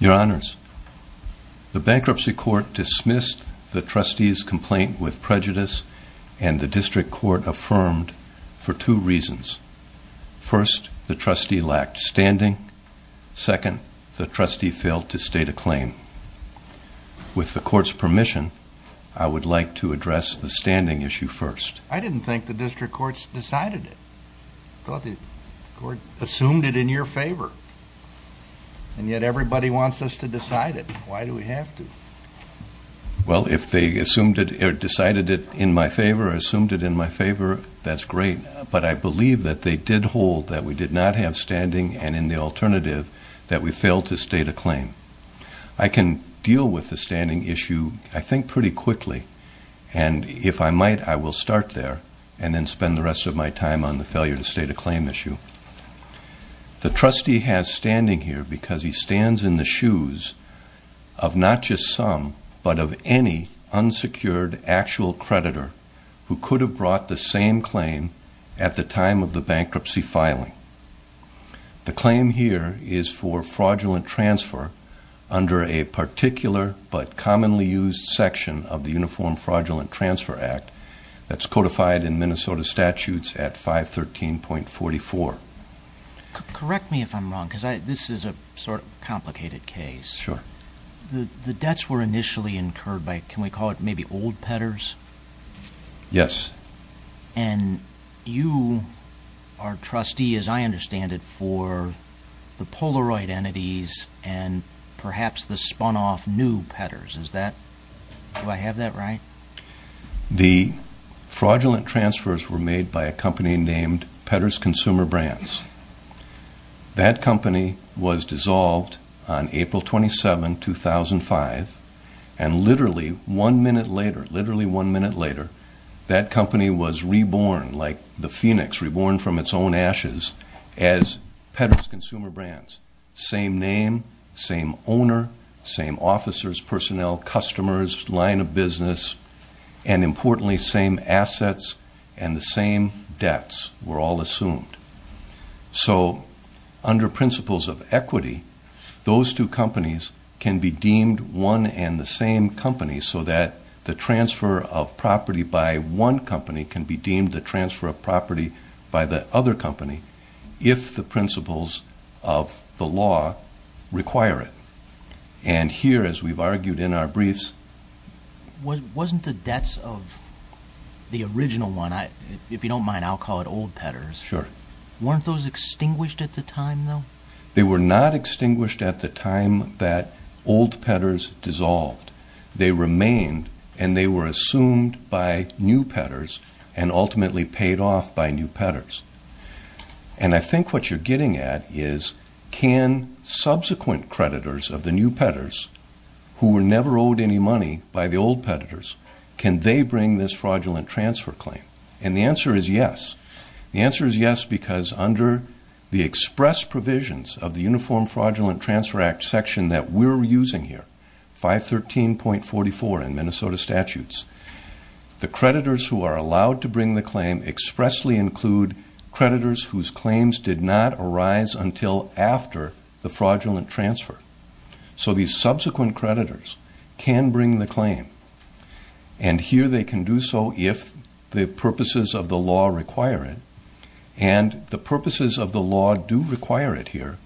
Your Honors, the Bankruptcy Court dismissed the trustee's complaint with prejudice and the District Court affirmed for two reasons. First, the trustee lacked standing. Second, the trustee failed to state a claim. With the Court's permission, I would like to address the standing issue first. I didn't think the District Courts decided it. I thought the Court assumed it in your favor and yet everybody wants us to decide it. Why do we have to? Well if they assumed it or decided it in my favor or assumed it in my favor, that's great. But I believe that they did hold that we did not have standing and in the alternative, that we failed to state a claim. I can deal with the standing issue, I think, pretty quickly and if I might, I will start there and then spend the rest of my time on the failure to state a claim issue. The trustee has standing here because he stands in the shoes of not just some but of any unsecured actual creditor who could have brought the same claim at the time of the bankruptcy filing. The claim here is for fraudulent transfer under a particular but commonly used section of the Uniform Fraudulent Transfer Act that's codified in Minnesota statutes at 513.44. Correct me if I'm wrong because this is a sort of complicated case. The debts were initially incurred by, can we call it maybe old pedders? Yes. And you are trustee, as I understand it, for the Polaroid entities and perhaps the spun off new pedders. Do I have that right? The fraudulent transfers were made by a company named Pedders Consumer Brands. That company was dissolved on April 27, 2005 and literally one minute later, literally one minute later, that company was reborn like the phoenix, reborn from its own ashes as Pedders Consumer Brands. Same name, same owner, same officers, personnel, customers, line of business and importantly same assets and the same debts were all assumed. So under principles of equity, those two companies can be deemed one and the same company so that the transfer of property by one company can be deemed the transfer of property by the other company if the principles of the law require it. And here, as we've argued in our briefs... Wasn't the debts of the original one, if you don't mind I'll call it old pedders, weren't those extinguished at the time though? They were not extinguished at the time that old pedders dissolved. They remained and they were assumed by new pedders and ultimately paid off by new pedders. And I think what you're getting at is can subsequent creditors of the new pedders who were never owed any money by the old pedders, can they bring this fraudulent transfer claim? And the answer is yes. The answer is yes because under the express provisions of the Uniform Fraudulent Transfer Act section that we're using here, 513.44 in Minnesota statutes, the creditors who are allowed to bring the claim expressly include creditors whose claims did not arise until after the fraudulent transfer. So these subsequent creditors can bring the claim. And here they can do so if the purposes of the law require it. And the purposes of the law do require it here.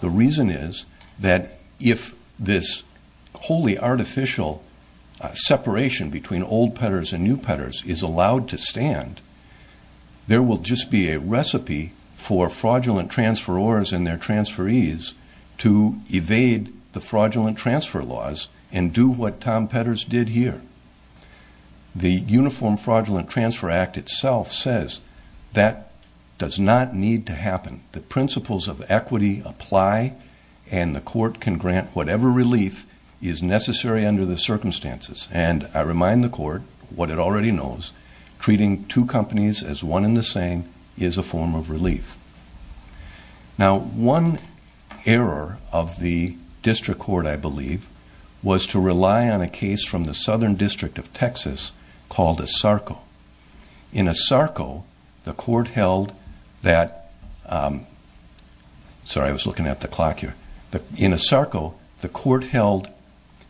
The reason is that if this wholly artificial separation between old pedders and new pedders is allowed to stand, there will just be a recipe for fraudulent transferors and their transferees to evade the fraudulent transfer laws and do what Tom Pedders did here. The Uniform Fraudulent Transfer Act itself says that does not need to happen. The principles of equity apply and the court can grant whatever relief is necessary under the circumstances. And I remind the court what it already knows. Treating two companies as one and the same is a form of relief. Now one error of the district court, I believe, was to rely on a case from the Southern District of Texas called Asarco. In Asarco, the court held that, sorry I was looking at the clock here. In Asarco, the court held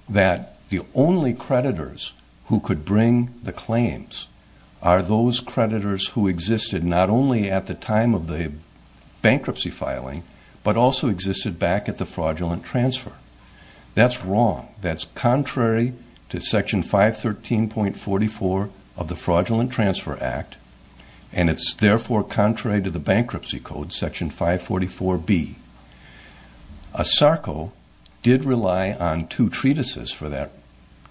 that the owner only creditors who could bring the claims are those creditors who existed not only at the time of the bankruptcy filing but also existed back at the fraudulent transfer. That's wrong. That's contrary to Section 513.44 of the Fraudulent Transfer Act and it's therefore contrary to the Bankruptcy Code, Section 544B. Asarco did rely on two treatises for that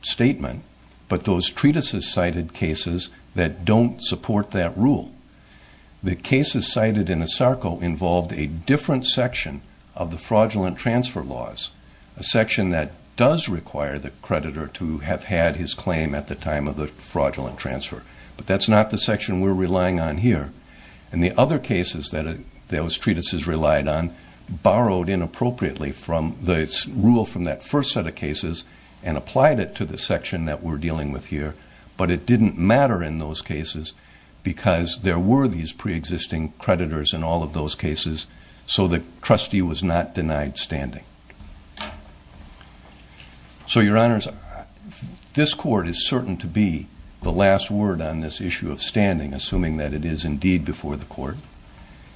statement but those treatises cited cases that don't support that rule. The cases cited in Asarco involved a different section of the fraudulent transfer laws, a section that does require the creditor to have had his claim at the time of the fraudulent transfer. But that's not the section we're relying on here. And the other cases that those treatises relied on borrowed inappropriately from the rule from that first set of cases and applied it to the section that we're dealing with here. But it didn't matter in those cases because there were these pre-existing creditors in all of those cases so the trustee was not denied standing. So your honors, this court is certain to be the last word on this issue of standing, assuming that it is indeed before the court.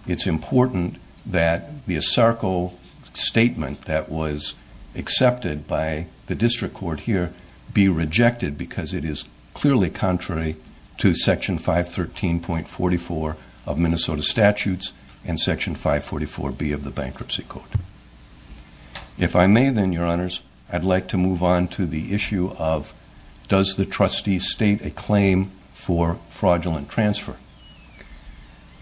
It's important that the Asarco statement that was accepted by the district court here be rejected because it is clearly contrary to Section 513.44 of Minnesota Statutes and Section 544B of the Bankruptcy Code. If I may then, your honors, I'd like to move on to the issue of does the trustee state a claim for fraudulent transfer?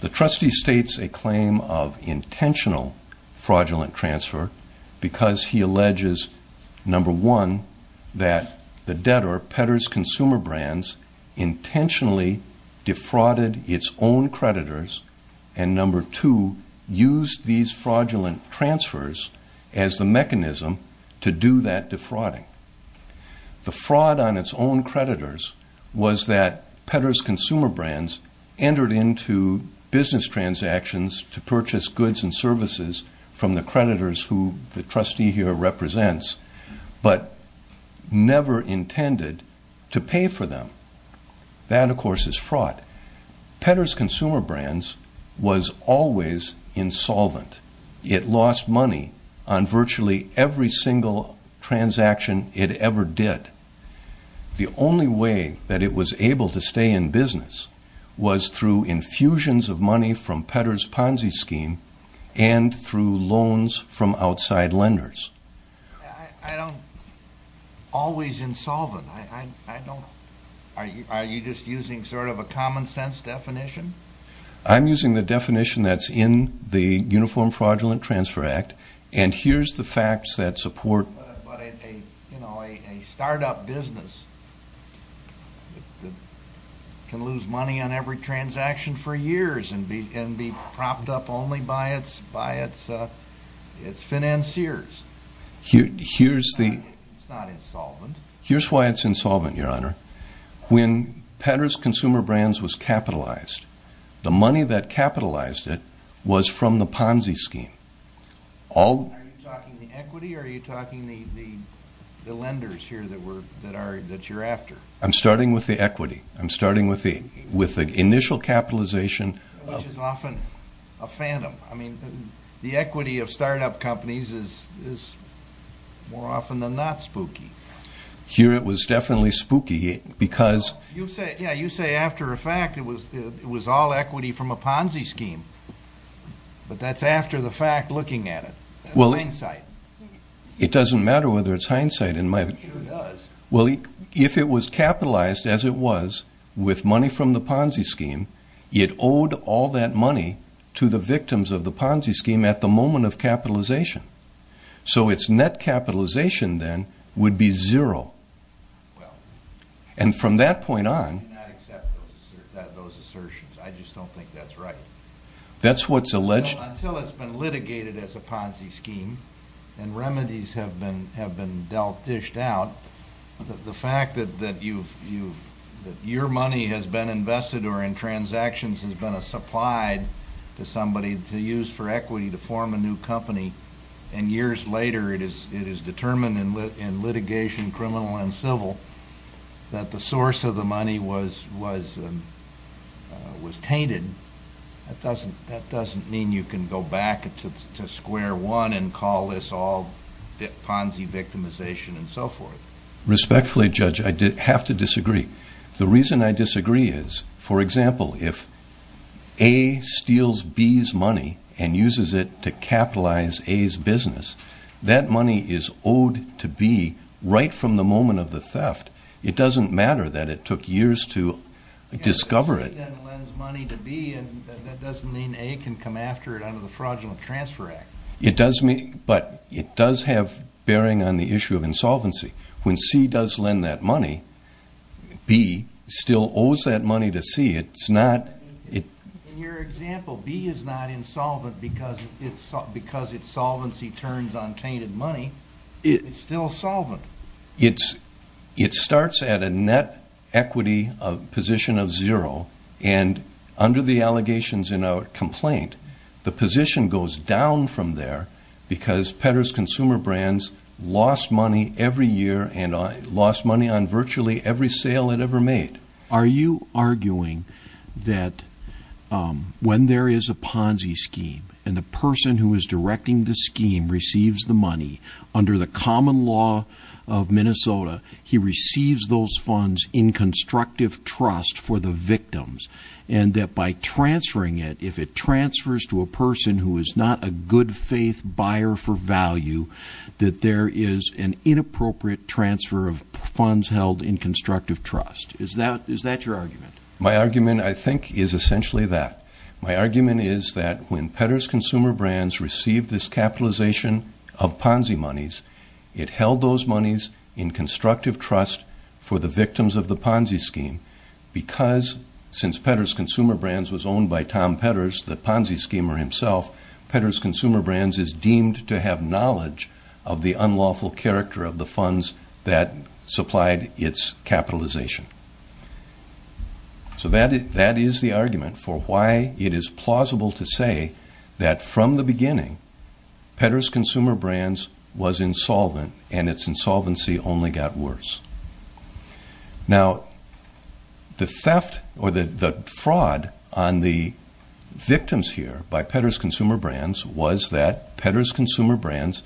The trustee states a claim of intentional fraudulent transfer because he alleges, number one, that the debtor, Pedder's Consumer Brands, intentionally defrauded its own creditors, and number two, used these fraudulent transfers as the mechanism to do that defrauding. The fraud on its own creditors was that Pedder's Consumer Brands entered into business transactions to purchase goods and services from the creditors who the trustee here represents but never intended to pay for them. That, of course, is fraud. Pedder's Consumer Brands was always insolvent. It lost money on virtually every single transaction it ever did. The only way that it was able to stay in business was through infusions of money from Pedder's Ponzi scheme and through loans from outside lenders. Always insolvent? Are you just using sort of a common sense definition? I'm using the definition that's in the Uniform Fraudulent Transfer Act, and here's the facts that support... But a start-up business can lose money on every transaction for years and be propped up only by its financiers. Here's why it's insolvent, Your Honor. When Pedder's Consumer Brands was capitalized, the money that capitalized it was from the Ponzi scheme. Are you talking the equity, or are you talking the lenders here that you're after? I'm starting with the equity. I'm starting with the initial capitalization... Which is often a phantom. I mean, the equity of start-up companies is more often than not spooky. Here it was definitely spooky because... Yeah, you say after a fact it was all equity from a Ponzi scheme, but that's after the working at it. That's hindsight. It doesn't matter whether it's hindsight in my view. It sure does. If it was capitalized as it was, with money from the Ponzi scheme, it owed all that money to the victims of the Ponzi scheme at the moment of capitalization. So its net capitalization then would be zero. And from that point on... I do not accept those assertions. I just don't think that's right. That's what's alleged... Until it's been litigated as a Ponzi scheme, and remedies have been dished out, the fact that your money has been invested or in transactions has been supplied to somebody to use for equity to form a new company, and years later it is determined in litigation, criminal and civil, that the source of the money was tainted, that doesn't mean you can do anything about it. You can go back to square one and call this all Ponzi victimization and so forth. Respectfully, Judge, I have to disagree. The reason I disagree is, for example, if A steals B's money and uses it to capitalize A's business, that money is owed to B right from the moment of the theft. It doesn't matter that it took years to discover it. But A then lends money to B, and that doesn't mean A can come after it under the Fraudulent Transfer Act. It does, but it does have bearing on the issue of insolvency. When C does lend that money, B still owes that money to C. In your example, B is not insolvent because its solvency turns on tainted money. It's still solvent. It starts at a net equity position of zero, and under the allegations in our complaint, the position goes down from there because Pedder's Consumer Brands lost money every year and lost money on virtually every sale it ever made. Are you arguing that when there is a Ponzi scheme and the person who is directing the Ponzi scheme in Minnesota, he receives those funds in constructive trust for the victims, and that by transferring it, if it transfers to a person who is not a good-faith buyer for value, that there is an inappropriate transfer of funds held in constructive trust? Is that your argument? My argument, I think, is essentially that. My argument is that when Pedder's Consumer Brands received this capitalization of Ponzi monies, it held those monies in constructive trust for the victims of the Ponzi scheme because, since Pedder's Consumer Brands was owned by Tom Pedders, the Ponzi schemer himself, Pedder's Consumer Brands is deemed to have knowledge of the unlawful character of the funds that supplied its capitalization. So, that is the argument for why it is plausible to say that, from the beginning, Pedder's Consumer Brands was insolvent and its insolvency only got worse. Now, the theft or the fraud on the victims here by Pedder's Consumer Brands was that Pedder's Consumer Brands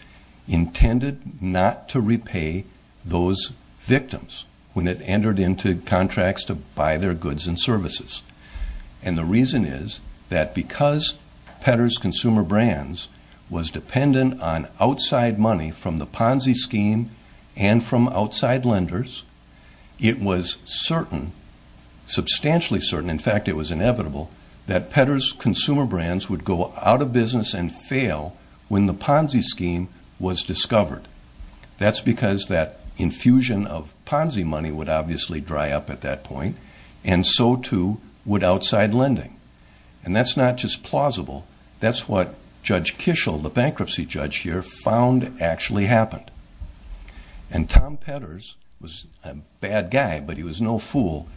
intended not to repay those victims when it entered into contracts to buy their goods and services. And the reason is that because Pedder's Consumer Brands was dependent on outside money from the Ponzi scheme and from outside lenders, it was certain, substantially certain, in fact, it was inevitable, that Pedder's Consumer Brands would go out of business and fail when the Ponzi scheme was discovered. That is because that infusion of Ponzi money would obviously dry up at that point and so too would outside lending. And that's not just plausible. That's what Judge Kishel, the bankruptcy judge here, found actually happened. And Tom Pedders was a bad guy, but he was no fool.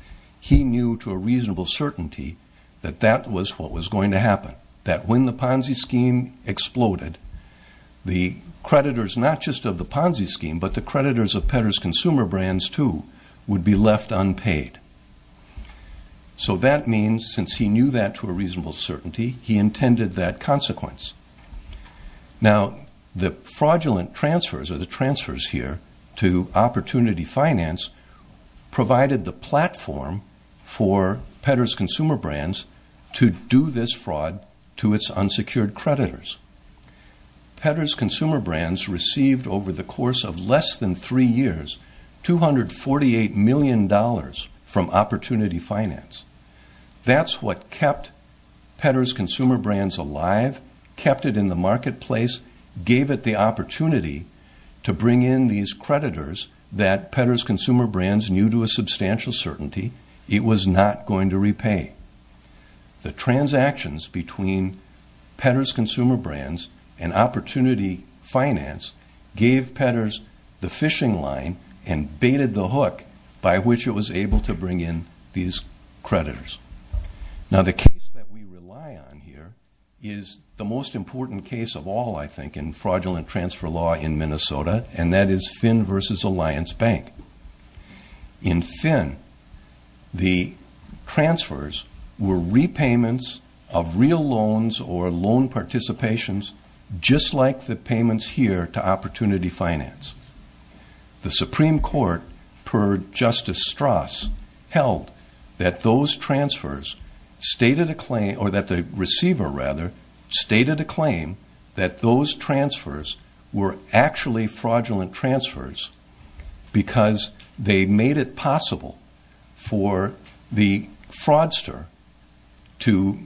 He knew to a reasonable certainty that that was what was going to happen, that when the Ponzi scheme exploded, the creditors not just of the Ponzi scheme but the creditors of Pedder's Consumer Brands too would be left unpaid. So that means, since he knew that to a reasonable certainty, he intended that consequence. Now, the fraudulent transfers or the transfers here to Opportunity Finance provided the platform for Pedder's Consumer Brands to do this fraud to its unsecured creditors. Pedder's Consumer Brands received over the course of less than three years $248 million from Opportunity Finance. That's what kept Pedder's Consumer Brands alive, kept it in the marketplace, gave it the opportunity to bring in these creditors that Pedder's Consumer Brands knew to a substantial certainty it was not going to repay. The transactions between Pedder's Consumer Brands and Opportunity Finance gave Pedder's the fishing line and baited the hook by which it was able to bring in these creditors. Now, the case that we rely on here is the most important case of all, I think, in fraudulent transfer law in Minnesota, and that is Finn versus Alliance Bank. In Finn, the transfers were repayments of real loans or loan participations, just like the payments here to Opportunity Finance. The Supreme Court, per Justice Strass, held that those transfers stated a claim, or that the receiver, rather, stated a claim that those transfers were actually fraudulent transfers because they made it possible for the fraudster to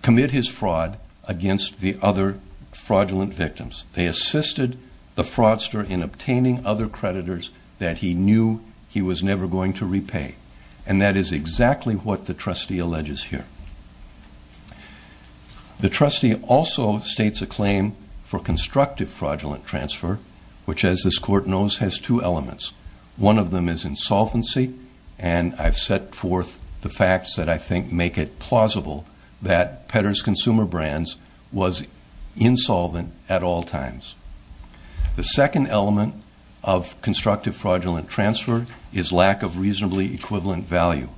commit his fraud against the other fraudulent victims. They assisted the fraudster in obtaining other creditors that he knew he was never going to repay, and that is exactly what the trustee alleges here. The trustee also states a claim for constructive fraudulent transfer, which, as this Court knows, has two elements. One of them is insolvency, and I've set forth the facts that I think make it plausible that Pedder's Consumer Brands was insolvent at all times. The second element of constructive fraudulent transfer is lack of reasonably equivalent value.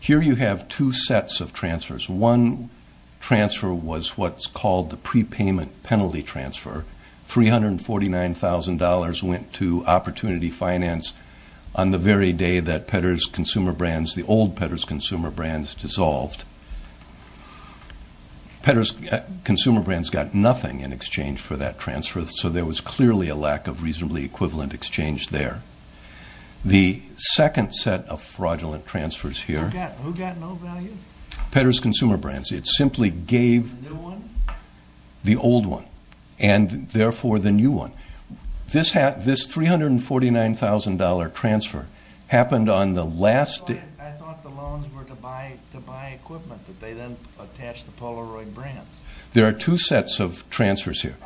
Here you have two sets of payment penalty transfer. $349,000 went to Opportunity Finance on the very day that Pedder's Consumer Brands, the old Pedder's Consumer Brands, dissolved. Pedder's Consumer Brands got nothing in exchange for that transfer, so there was clearly a lack of reasonably equivalent exchange there. The second set of fraudulent transfers here, Pedder's Consumer Brands, it simply gave the old one, and therefore the new one. This $349,000 transfer happened on the last day. There are two sets of transfers here.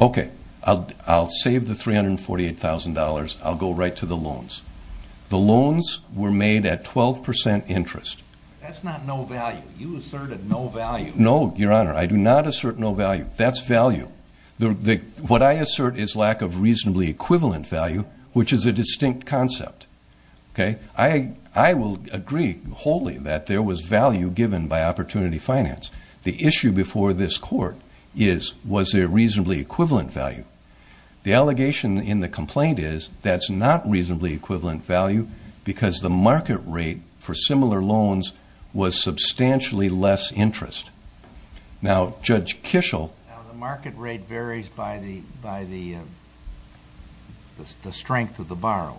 Okay, I'll save the $348,000. I'll go right to the loans. The loans were made at 12% interest. That's not no value. You asserted no value. No, Your Honor, I do not assert no value. That's value. What I assert is lack of reasonably equivalent value, which is a distinct concept. Okay? I will agree wholly that there was value given by Opportunity Finance. The issue before this Court is was there reasonably equivalent value? The allegation in the complaint is that's not reasonably equivalent value because the market rate for similar loans was substantially less interest. Now Judge Kishel Now the market rate varies by the strength of the borrower.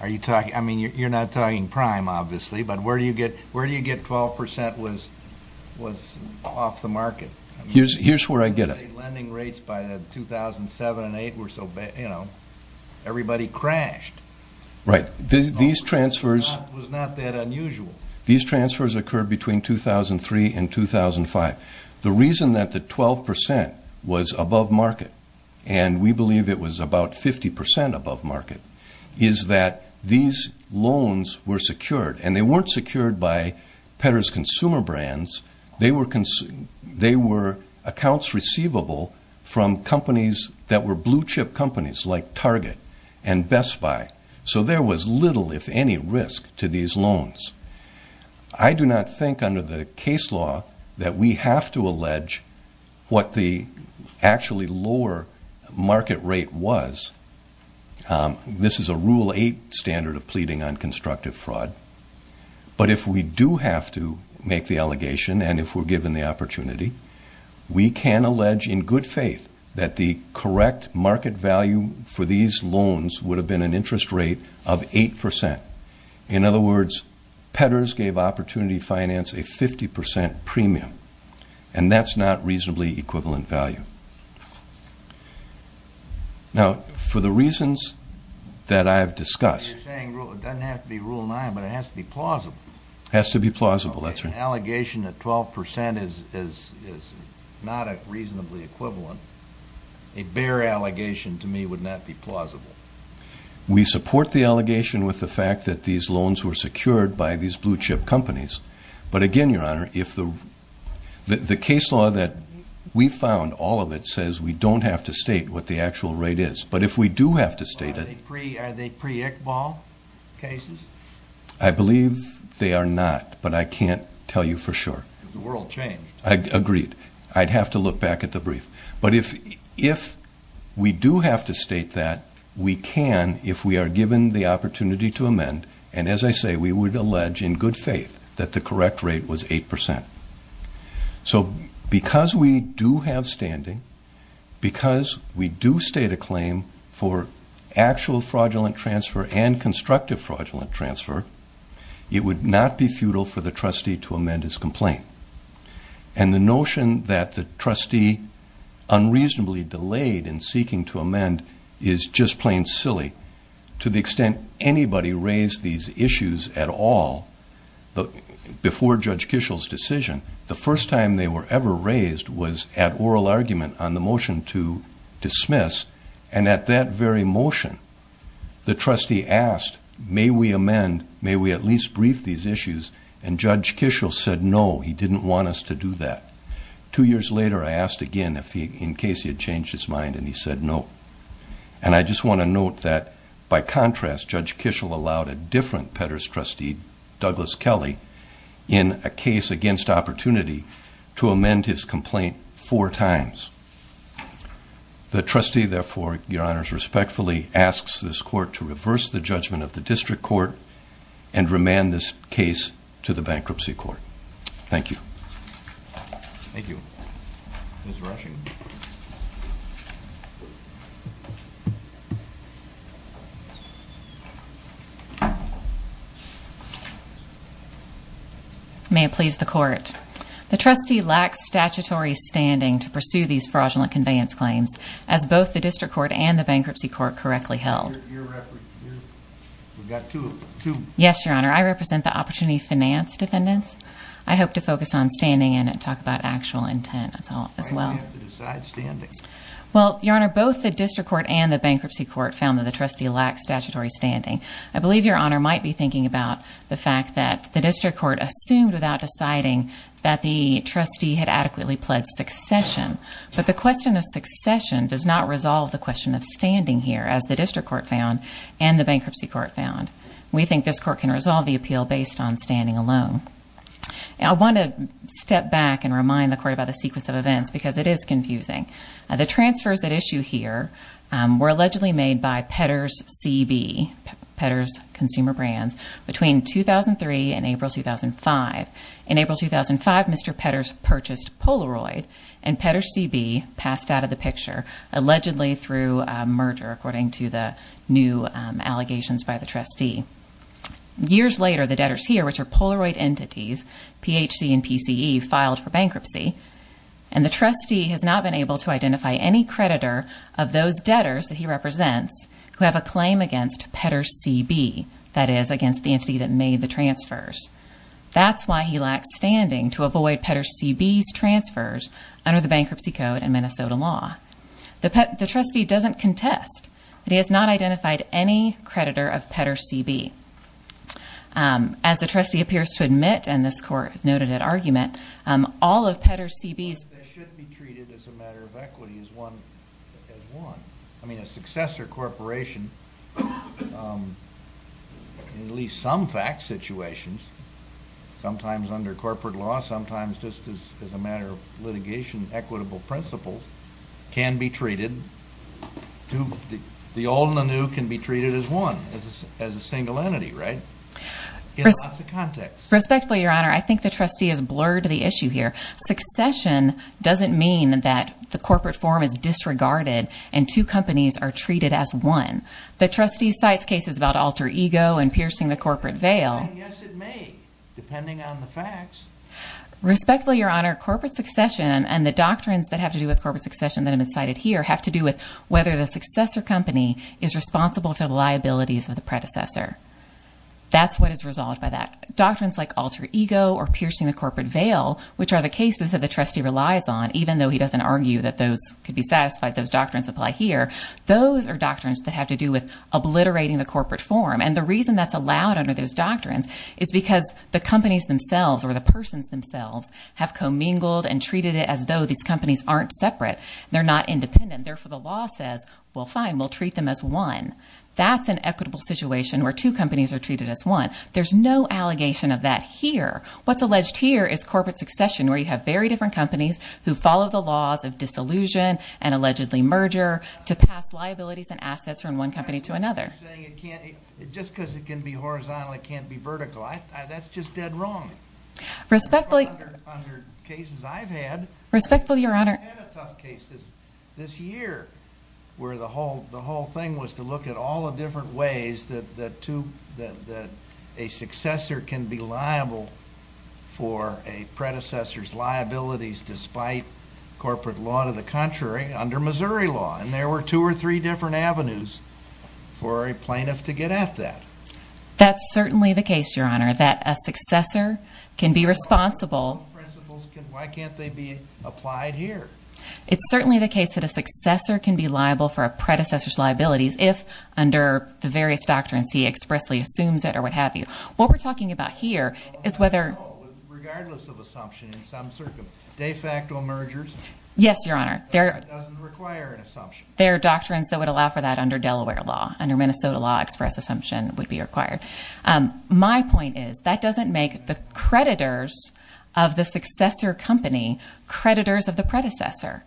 Are you talking, I mean you're not talking prime obviously, but where do you get 12% was off the market? Here's where I get it. Lending rates by 2007 and 2008 were so bad, you know, everybody crashed. Right. These transfers It was not that unusual. These transfers occurred between 2003 and 2005. The reason that the 12% was above market, and we believe it was about 50% above market, is that these loans were secured, and they were accounts receivable from companies that were blue chip companies like Target and Best Buy. So there was little, if any, risk to these loans. I do not think under the case law that we have to allege what the actually lower market rate was. This is a Rule 8 standard of pleading on constructive fraud. But if we do have to make the allegation and if we're not making the opportunity, we can allege in good faith that the correct market value for these loans would have been an interest rate of 8%. In other words, peddlers gave opportunity finance a 50% premium, and that's not reasonably equivalent value. Now for the reasons that I have discussed You're saying it doesn't have to be Rule 9, but it has to be plausible. Has to be plausible, that's right. An allegation that 12% is not reasonably equivalent, a bare allegation to me would not be plausible. We support the allegation with the fact that these loans were secured by these blue chip companies. But again, Your Honor, the case law that we found, all of it, says we don't have to state what the actual rate is. But if we do have to state it Are they pre-Iqbal cases? I believe they are not, but I can't tell you for sure. Because the world changed. I agree. I'd have to look back at the brief. But if we do have to state that, we can if we are given the opportunity to amend, and as I say, we would allege in good faith that the correct rate was 8%. So because we do have standing, because we do state a claim for actual fraudulent transfer and constructive fraudulent transfer, it would not be futile for the trustee to amend his complaint. And the notion that the trustee unreasonably delayed in seeking to amend is just plain silly. To the extent anybody raised these issues at all before Judge Kishel's decision, the first time they were ever raised was at oral argument on the motion to dismiss. And at that very motion, the trustee asked, may we amend, may we at least brief these issues? And Judge Kishel said no, he didn't want us to do that. Two years later, I asked again in case he had changed his mind, and he said no. And I just want to note that by contrast, Judge Kishel allowed a different Petters trustee, Douglas Kelly, in a case against opportunity, to amend his complaint four times. The trustee, therefore, your honors, respectfully asks this court to reverse the judgment of the district court and remand this case to the bankruptcy court. Thank you. Ms. Rushing. May it please the court. The trustee lacks statutory standing to pursue these fraudulent conveyance claims as both the district court and the bankruptcy court correctly held. We've got two of them, two. Yes, your honor. I represent the opportunity finance defendants. I hope to focus on standing and talk about actual intent as well. Why do you have to decide standing? Well, your honor, both the district court and the bankruptcy court found that the trustee lacked statutory standing. I believe your honor might be thinking about the fact that the district court assumed without deciding that the trustee had adequately pledged succession. But the question of succession does not resolve the question of standing here, as the district court found and the bankruptcy court found. We think this court can resolve the appeal based on standing alone. I want to step back and remind the court about the sequence of events because it is confusing. The transfers at issue here were allegedly made by Pedder's CB, Pedder's Consumer Brands, between 2003 and April 2005. In April 2005, Mr. Pedder's purchased Polaroid and Pedder's CB passed out of the picture, allegedly through a merger, according to the new allegations by the trustee. Years later, the debtors here, which are Polaroid entities, PHC and PCE, filed for bankruptcy and the trustee has not been able to identify any creditor of those debtors that he represents who have a claim against Pedder's CB, that is, against the entity that made the transfers. That's why he lacked standing to avoid Pedder's CB's transfers under the bankruptcy code and Minnesota law. The trustee doesn't contest that he has not identified any creditor of Pedder's CB. As the trustee appears to admit, and this court noted at argument, all of Pedder's CB's... They should be treated as a matter of equity, as one. I mean, a successor corporation, in at least some fact situations, sometimes under corporate law, sometimes just as a matter of litigation, equitable principles, can be treated, the old and the new can be treated as one, as a single entity, right? In lots of contexts. Respectfully, Your Honor, I think the trustee has blurred the issue here. Succession doesn't mean that the corporate form is disregarded and two companies are treated as one. The trustee cites cases about alter ego and piercing the corporate veil. Yes, it may, depending on the facts. Respectfully, Your Honor, corporate succession and the doctrines that have to do with corporate succession that have been cited here have to do with whether the successor company is responsible for the liabilities of the predecessor. That's what is resolved by that. Doctrines like alter ego or piercing the corporate veil, which are the cases that the trustee relies on, even though he doesn't argue that those could be satisfied, those doctrines apply here, those are doctrines that have to do with obliterating the corporate form. And the reason that's allowed under those doctrines is because the companies themselves or the persons themselves have commingled and treated it as though these companies aren't separate, they're not independent. Therefore, the law says, well, fine, we'll treat them as one. That's an equitable situation where two companies are treated as one. There's no allegation of that here. What's alleged here is corporate succession where you have very different companies who follow the laws of disillusion and allegedly merger to pass liabilities and assets from one company to another. Just because it can be horizontal, it can't be vertical. That's just dead wrong. Under cases I've had, I've had a tough case this year where the whole thing was to look at all the different ways that a successor can be liable for a predecessor's liabilities despite corporate law to the contrary under Missouri law. And there were two or three different avenues for a plaintiff to get at that. That's certainly the case, Your Honor, that a successor can be responsible. Why can't they be applied here? It's certainly the case that a successor can be liable for a predecessor's liabilities if under the various doctrines he expressly assumes it or what have you. What we're talking about here is whether... Regardless of assumption, in some circumstances, de facto mergers... Yes, Your Honor. That doesn't require an assumption. There are doctrines that would allow for that under Delaware law. Under Minnesota law, express assumption would be required. My point is, that doesn't make the creditors of the successor company creditors of the predecessor.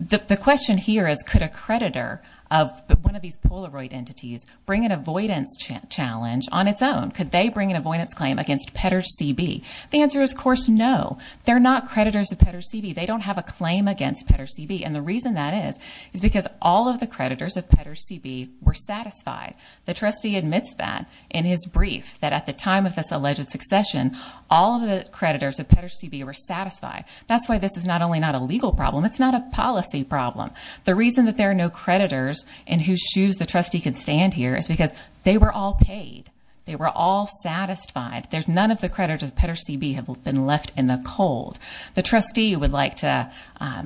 The question here is, could a creditor of one of these Polaroid entities bring an avoidance challenge on its own? Could they bring an avoidance claim against Petters C.B.? The answer is, of course, no. They're not creditors of Petters C.B. They don't have a claim against Petters C.B. The reason that is, is because all of the creditors of Petters C.B. were satisfied. The trustee admits that in his brief, that at the time of this alleged succession, all of the creditors of Petters C.B. were satisfied. That's why this is not only not a legal problem, it's not a policy problem. The reason that there are no creditors in whose shoes the trustee can stand here is because they were all paid. They were all satisfied. None of the creditors of Petters C.B. have been left in the cold. The trustee would like to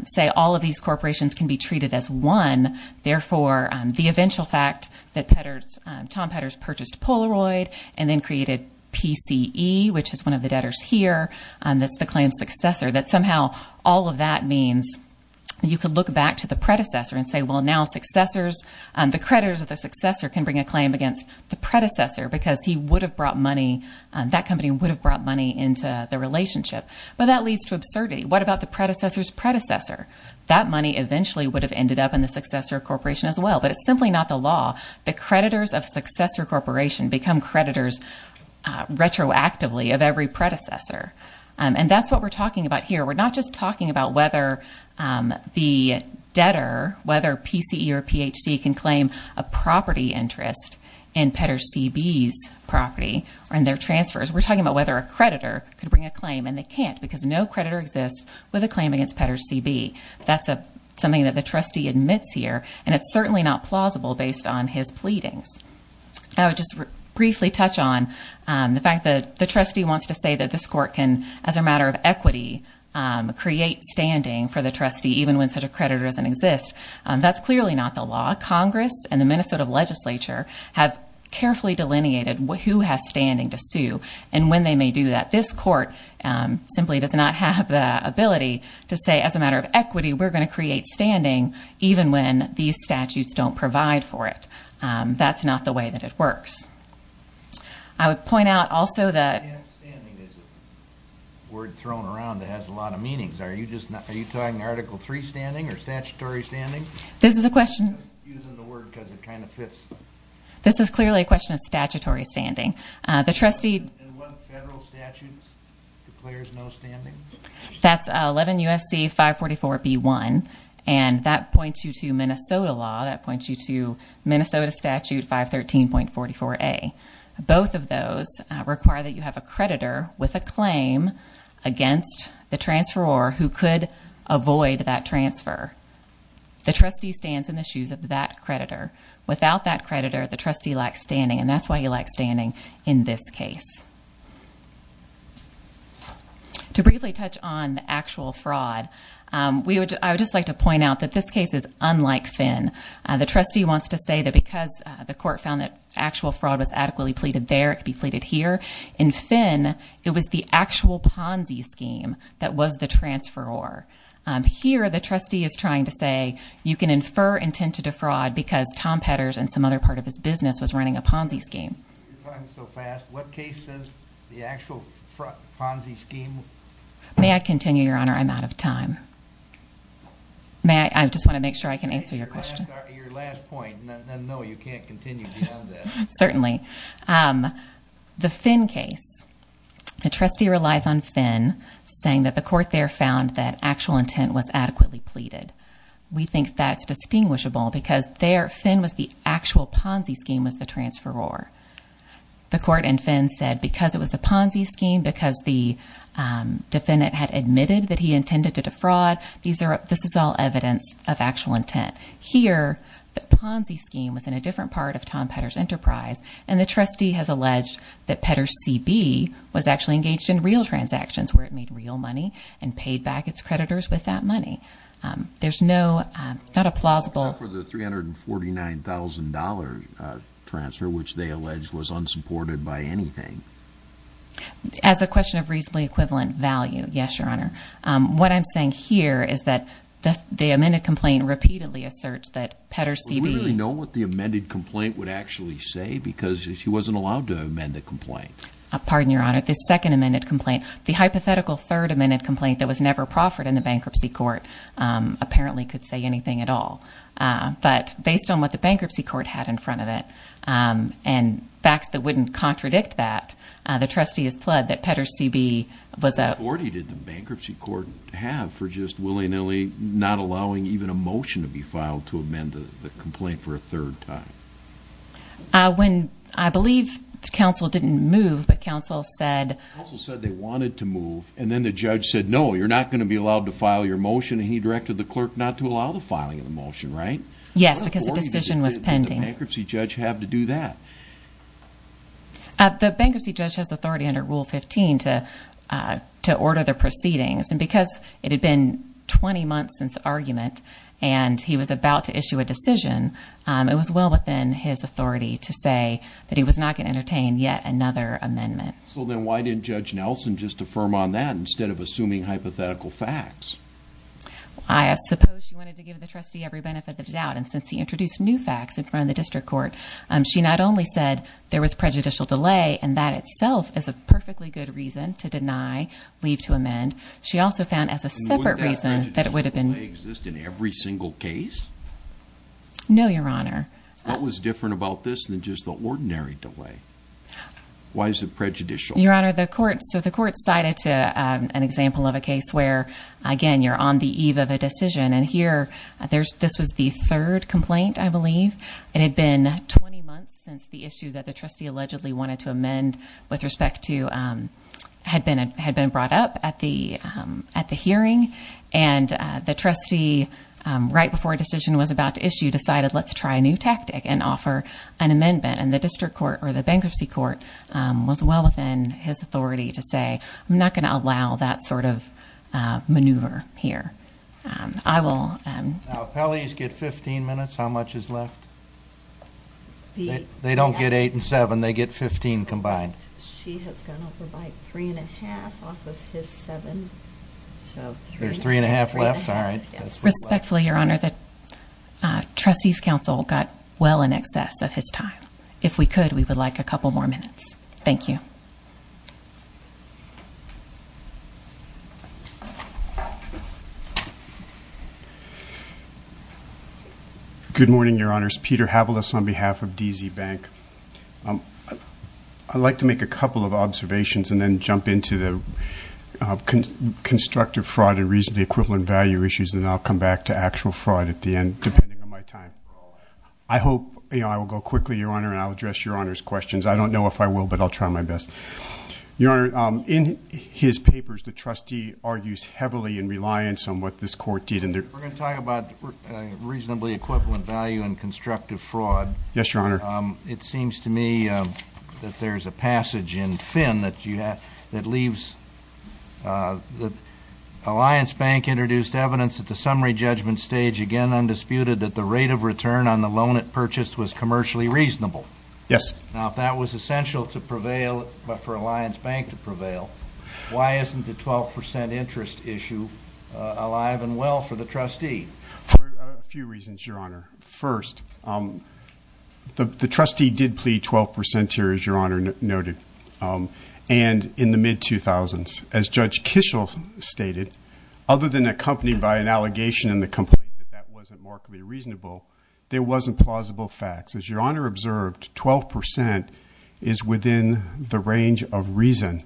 say all of these corporations can be treated as one. Therefore, the eventual fact that Tom Petters purchased Polaroid and then created PCE, which is one of the debtors here, that's the claim's successor, that somehow all of that means you could look back to the predecessor and say, well, now successors, the creditors of the successor can bring a claim against the predecessor because he would have brought money, that company would have brought money into the relationship. But that leads to absurdity. What about the predecessor's predecessor? That money eventually would have ended up in the successor corporation as well. But it's simply not the law. The creditors of successor corporation become creditors retroactively of every predecessor. And that's what we're talking about here. We're not just talking about whether the debtor, whether PCE or PHC can claim a property interest in Petters C.B.'s property or in their transfers. We're talking about whether a creditor could bring a claim and they can't because no creditor exists with a claim against Petters C.B. That's something that the trustee admits here and it's certainly not plausible based on his pleadings. I would just briefly touch on the fact that the trustee wants to say that this court can, as a matter of equity, create standing for the trustee even when such a creditor doesn't exist. That's clearly not the law. Congress and the Minnesota legislature have carefully delineated who has standing to sue and when they may do that. This court simply does not have the ability to say, as a matter of equity, we're going to create standing even when these statutes don't provide for it. That's not the way that it works. I would point out also that... Standing is a word thrown around that has a lot of meanings. Are you talking Article III standing or statutory standing? This is a question... I'm using the word because it kind of fits. This is clearly a question of statutory standing. The trustee... And what federal statute declares no standing? That's 11 U.S.C. 544B1 and that points you to Minnesota law. That points you to Minnesota Statute 513.44A. Both of those require that you have a creditor with a claim against the transferor who could avoid that transfer. The trustee stands in the shoes of that creditor. Without that creditor, the trustee lacks standing and that's why he lacks standing in this case. To briefly touch on the actual fraud, I would just like to point out that this case is unlike Finn. The trustee wants to say that because the court found that actual fraud was adequately pleaded there, it could be pleaded here. In Finn, it was the actual Ponzi scheme that was the transferor. Here, the trustee is trying to say you can infer intent to defraud because Tom Petters and some other part of his business was running a Ponzi scheme. You're talking so fast. What case says the actual Ponzi scheme? May I continue, Your Honor? I'm out of time. I just want to make sure I can answer your question. Your last point. No, you can't continue beyond that. Certainly. The Finn case. The trustee relies on Finn saying that the court there found that actual intent was adequately pleaded. We think that's distinguishable because there, Finn was the actual Ponzi scheme was the transferor. The court in Finn said because it was a Ponzi scheme, because the defendant had admitted that he intended to defraud, this is all evidence of actual intent. Here, the Ponzi scheme was in a different part of Tom Petters' enterprise and the trustee has alleged that Petters C.B. was actually engaged in real transactions where it made real money and paid back its creditors with that money. There's no, not a plausible. Except for the $349,000 transfer, which they allege was unsupported by anything. As a question of reasonably equivalent value, yes, Your Honor. What I'm saying here is that the amended complaint repeatedly asserts that Petters C.B. Do we really know what the amended complaint would actually say? Because he wasn't allowed to amend the complaint. Pardon, Your Honor. The second amended complaint, the hypothetical third amended complaint that was never proffered in the bankruptcy court apparently could say anything at all. But based on what the bankruptcy court had in front of it and facts that wouldn't contradict that, the trustee has pled that Petters C.B. was a What authority did the bankruptcy court have for just willy-nilly not allowing even a motion to be filed to amend the complaint for a third time? When, I believe counsel didn't move, but counsel said Counsel said they wanted to move, and then the judge said, no, you're not going to be allowed to file your motion, and he directed the clerk not to allow the filing of the motion, right? Yes, because the decision was pending. What authority did the bankruptcy judge have to do that? The bankruptcy judge has authority under Rule 15 to order the proceedings. And because it had been 20 months since argument, and he was about to issue a decision, it was well within his authority to say that he was not going to entertain yet another amendment. So then why didn't Judge Nelson just affirm on that instead of assuming hypothetical facts? I suppose she wanted to give the trustee every benefit of the doubt. And since he introduced new facts in front of the district court, she not only said there was prejudicial delay, and that itself is a perfectly good reason to deny leave to amend. She also found as a separate reason that it would have been. And wouldn't that prejudicial delay exist in every single case? No, Your Honor. What was different about this than just the ordinary delay? Why is it prejudicial? Your Honor, the court cited an example of a case where, again, you're on the eve of a decision. And here, this was the third complaint, I believe. It had been 20 months since the issue that the trustee allegedly wanted to amend with respect to had been brought up at the hearing. And the trustee, right before a decision was about to issue, decided, let's try a new tactic and offer an amendment. And the district court or the bankruptcy court was well within his authority to say, I'm not going to allow that sort of maneuver here. Now, if Pelley's get 15 minutes, how much is left? They don't get 8 and 7. They get 15 combined. Correct. She has gone over by 3 and 1⁄2 off of his 7. So 3 and 1⁄2. There's 3 and 1⁄2 left? All right. Respectfully, Your Honor, the trustee's counsel got well in excess of his time. If we could, we would like a couple more minutes. Thank you. Good morning, Your Honors. Peter Havilis on behalf of DZ Bank. I'd like to make a couple of observations and then jump into the constructive fraud and reasonably equivalent value issues, and then I'll come back to actual fraud at the end, depending on my time. I hope I will go quickly, Your Honor, and I'll address Your Honor's questions. I don't know if I will, but I'll try my best. Your Honor, in his papers, the trustee argues heavily in reliance on what this court did. We're going to talk about reasonably equivalent value and constructive fraud. Yes, Your Honor. It seems to me that there's a passage in Finn that leaves that Alliance Bank introduced evidence at the summary judgment stage, again undisputed, that the rate of return on the loan it purchased was commercially reasonable. Yes. Now, if that was essential for Alliance Bank to prevail, why isn't the 12 percent interest issue alive and well for the trustee? For a few reasons, Your Honor. First, the trustee did plead 12 percent here, as Your Honor noted, and in the mid-2000s. As Judge Kishel stated, other than accompanied by an allegation in the complaint that that wasn't markedly reasonable, there wasn't plausible facts. As Your Honor observed, 12 percent is within the range of reason.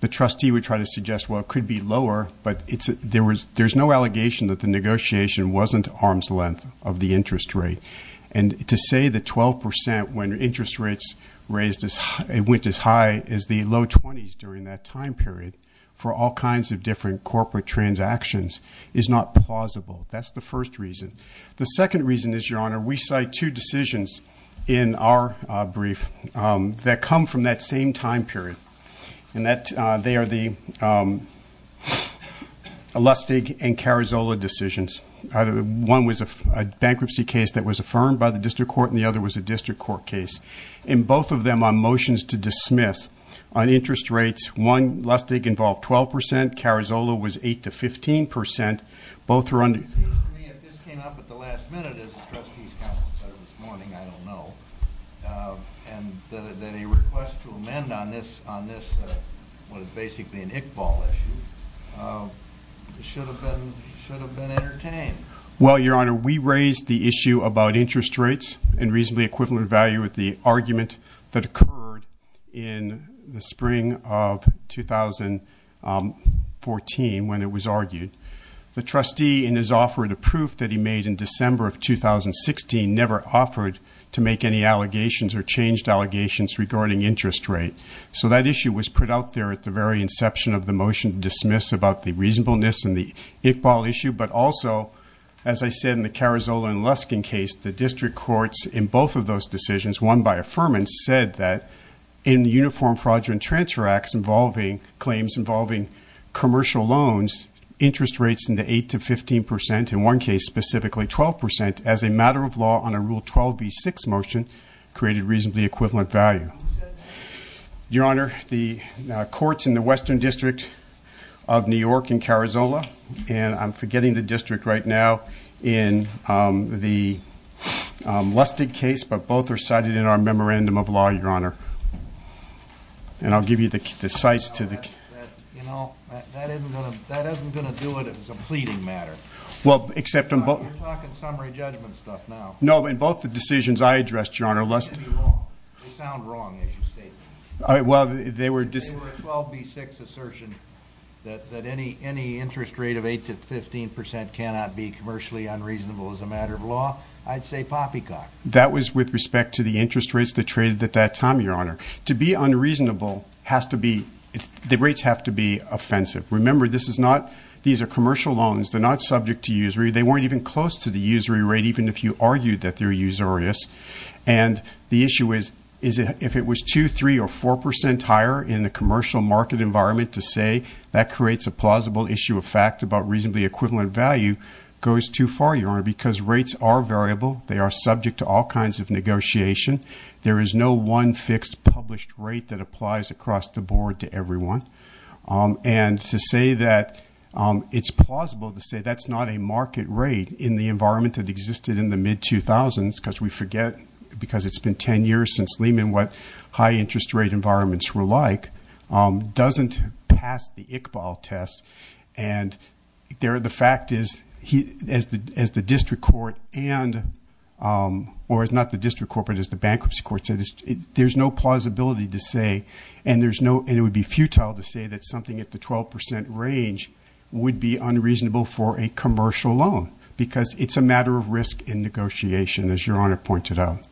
The trustee would try to suggest, well, it could be lower, but there's no allegation that the negotiation wasn't arm's length of the interest rate. And to say that 12 percent, when interest rates went as high as the low 20s during that time period, for all kinds of different corporate transactions is not plausible. That's the first reason. The second reason is, Your Honor, we cite two decisions in our brief that come from that same time period. They are the Lustig and Carazzola decisions. One was a bankruptcy case that was affirmed by the district court, and the other was a district court case. In both of them on motions to dismiss on interest rates, one, Lustig, involved 12 percent, Carazzola was 8 to 15 percent. It seems to me if this came up at the last minute, as the trustee's counsel said this morning, I don't know, and that a request to amend on this was basically an Iqbal issue, it should have been entertained. Well, Your Honor, we raised the issue about interest rates and reasonably equivalent value with the argument that occurred in the spring of 2014 when it was argued. The trustee, in his offer to proof that he made in December of 2016, never offered to make any allegations or changed allegations regarding interest rate. So that issue was put out there at the very inception of the motion to dismiss about the reasonableness and the Iqbal issue. But also, as I said in the Carazzola and Lustig case, the district courts in both of those decisions, one by affirmance, said that in uniform fraudulent transfer acts involving claims involving commercial loans, interest rates in the 8 to 15 percent, in one case specifically 12 percent, as a matter of law on a Rule 12b6 motion, created reasonably equivalent value. Your Honor, the courts in the Western District of New York and Carazzola, and I'm forgetting the district right now, in the Lustig case, but both are cited in our Memorandum of Law, Your Honor. And I'll give you the sites to the... You know, that isn't going to do it as a pleading matter. Well, except in both... You're talking summary judgment stuff now. No, in both the decisions I addressed, Your Honor, Lustig... They sound wrong, as you stated. They were a 12b6 assertion that any interest rate of 8 to 15 percent cannot be commercially unreasonable as a matter of law. I'd say poppycock. That was with respect to the interest rates that traded at that time, Your Honor. To be unreasonable, the rates have to be offensive. Remember, these are commercial loans. They're not subject to usury. They weren't even close to the usury rate, even if you argued that they're usurious. And the issue is, if it was 2%, 3%, or 4% higher in a commercial market environment to say that creates a plausible issue of fact about reasonably equivalent value goes too far, Your Honor, because rates are variable. They are subject to all kinds of negotiation. There is no one fixed published rate that applies across the board to everyone. And to say that it's plausible to say that's not a market rate in the environment that existed in the mid-2000s, because we forget, because it's been 10 years since Lehman, what high interest rate environments were like, doesn't pass the Iqbal test. And the fact is, as the district court and, or not the district court, but as the bankruptcy court said, there's no plausibility to say, and it would be futile to say that something at the 12% range would be unreasonable for a commercial loan because it's a matter of risk in negotiation, as Your Honor pointed out.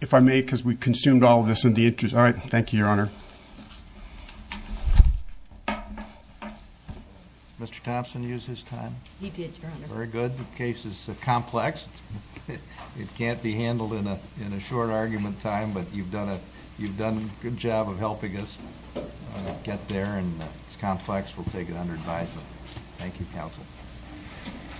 If I may, because we consumed all of this in the interest. All right, thank you, Your Honor. Did Mr. Thompson use his time? He did, Your Honor. Very good. The case is complex. It can't be handled in a short argument time, but you've done a good job of helping us get there. And it's complex. We'll take it under advisement. Thank you, counsel.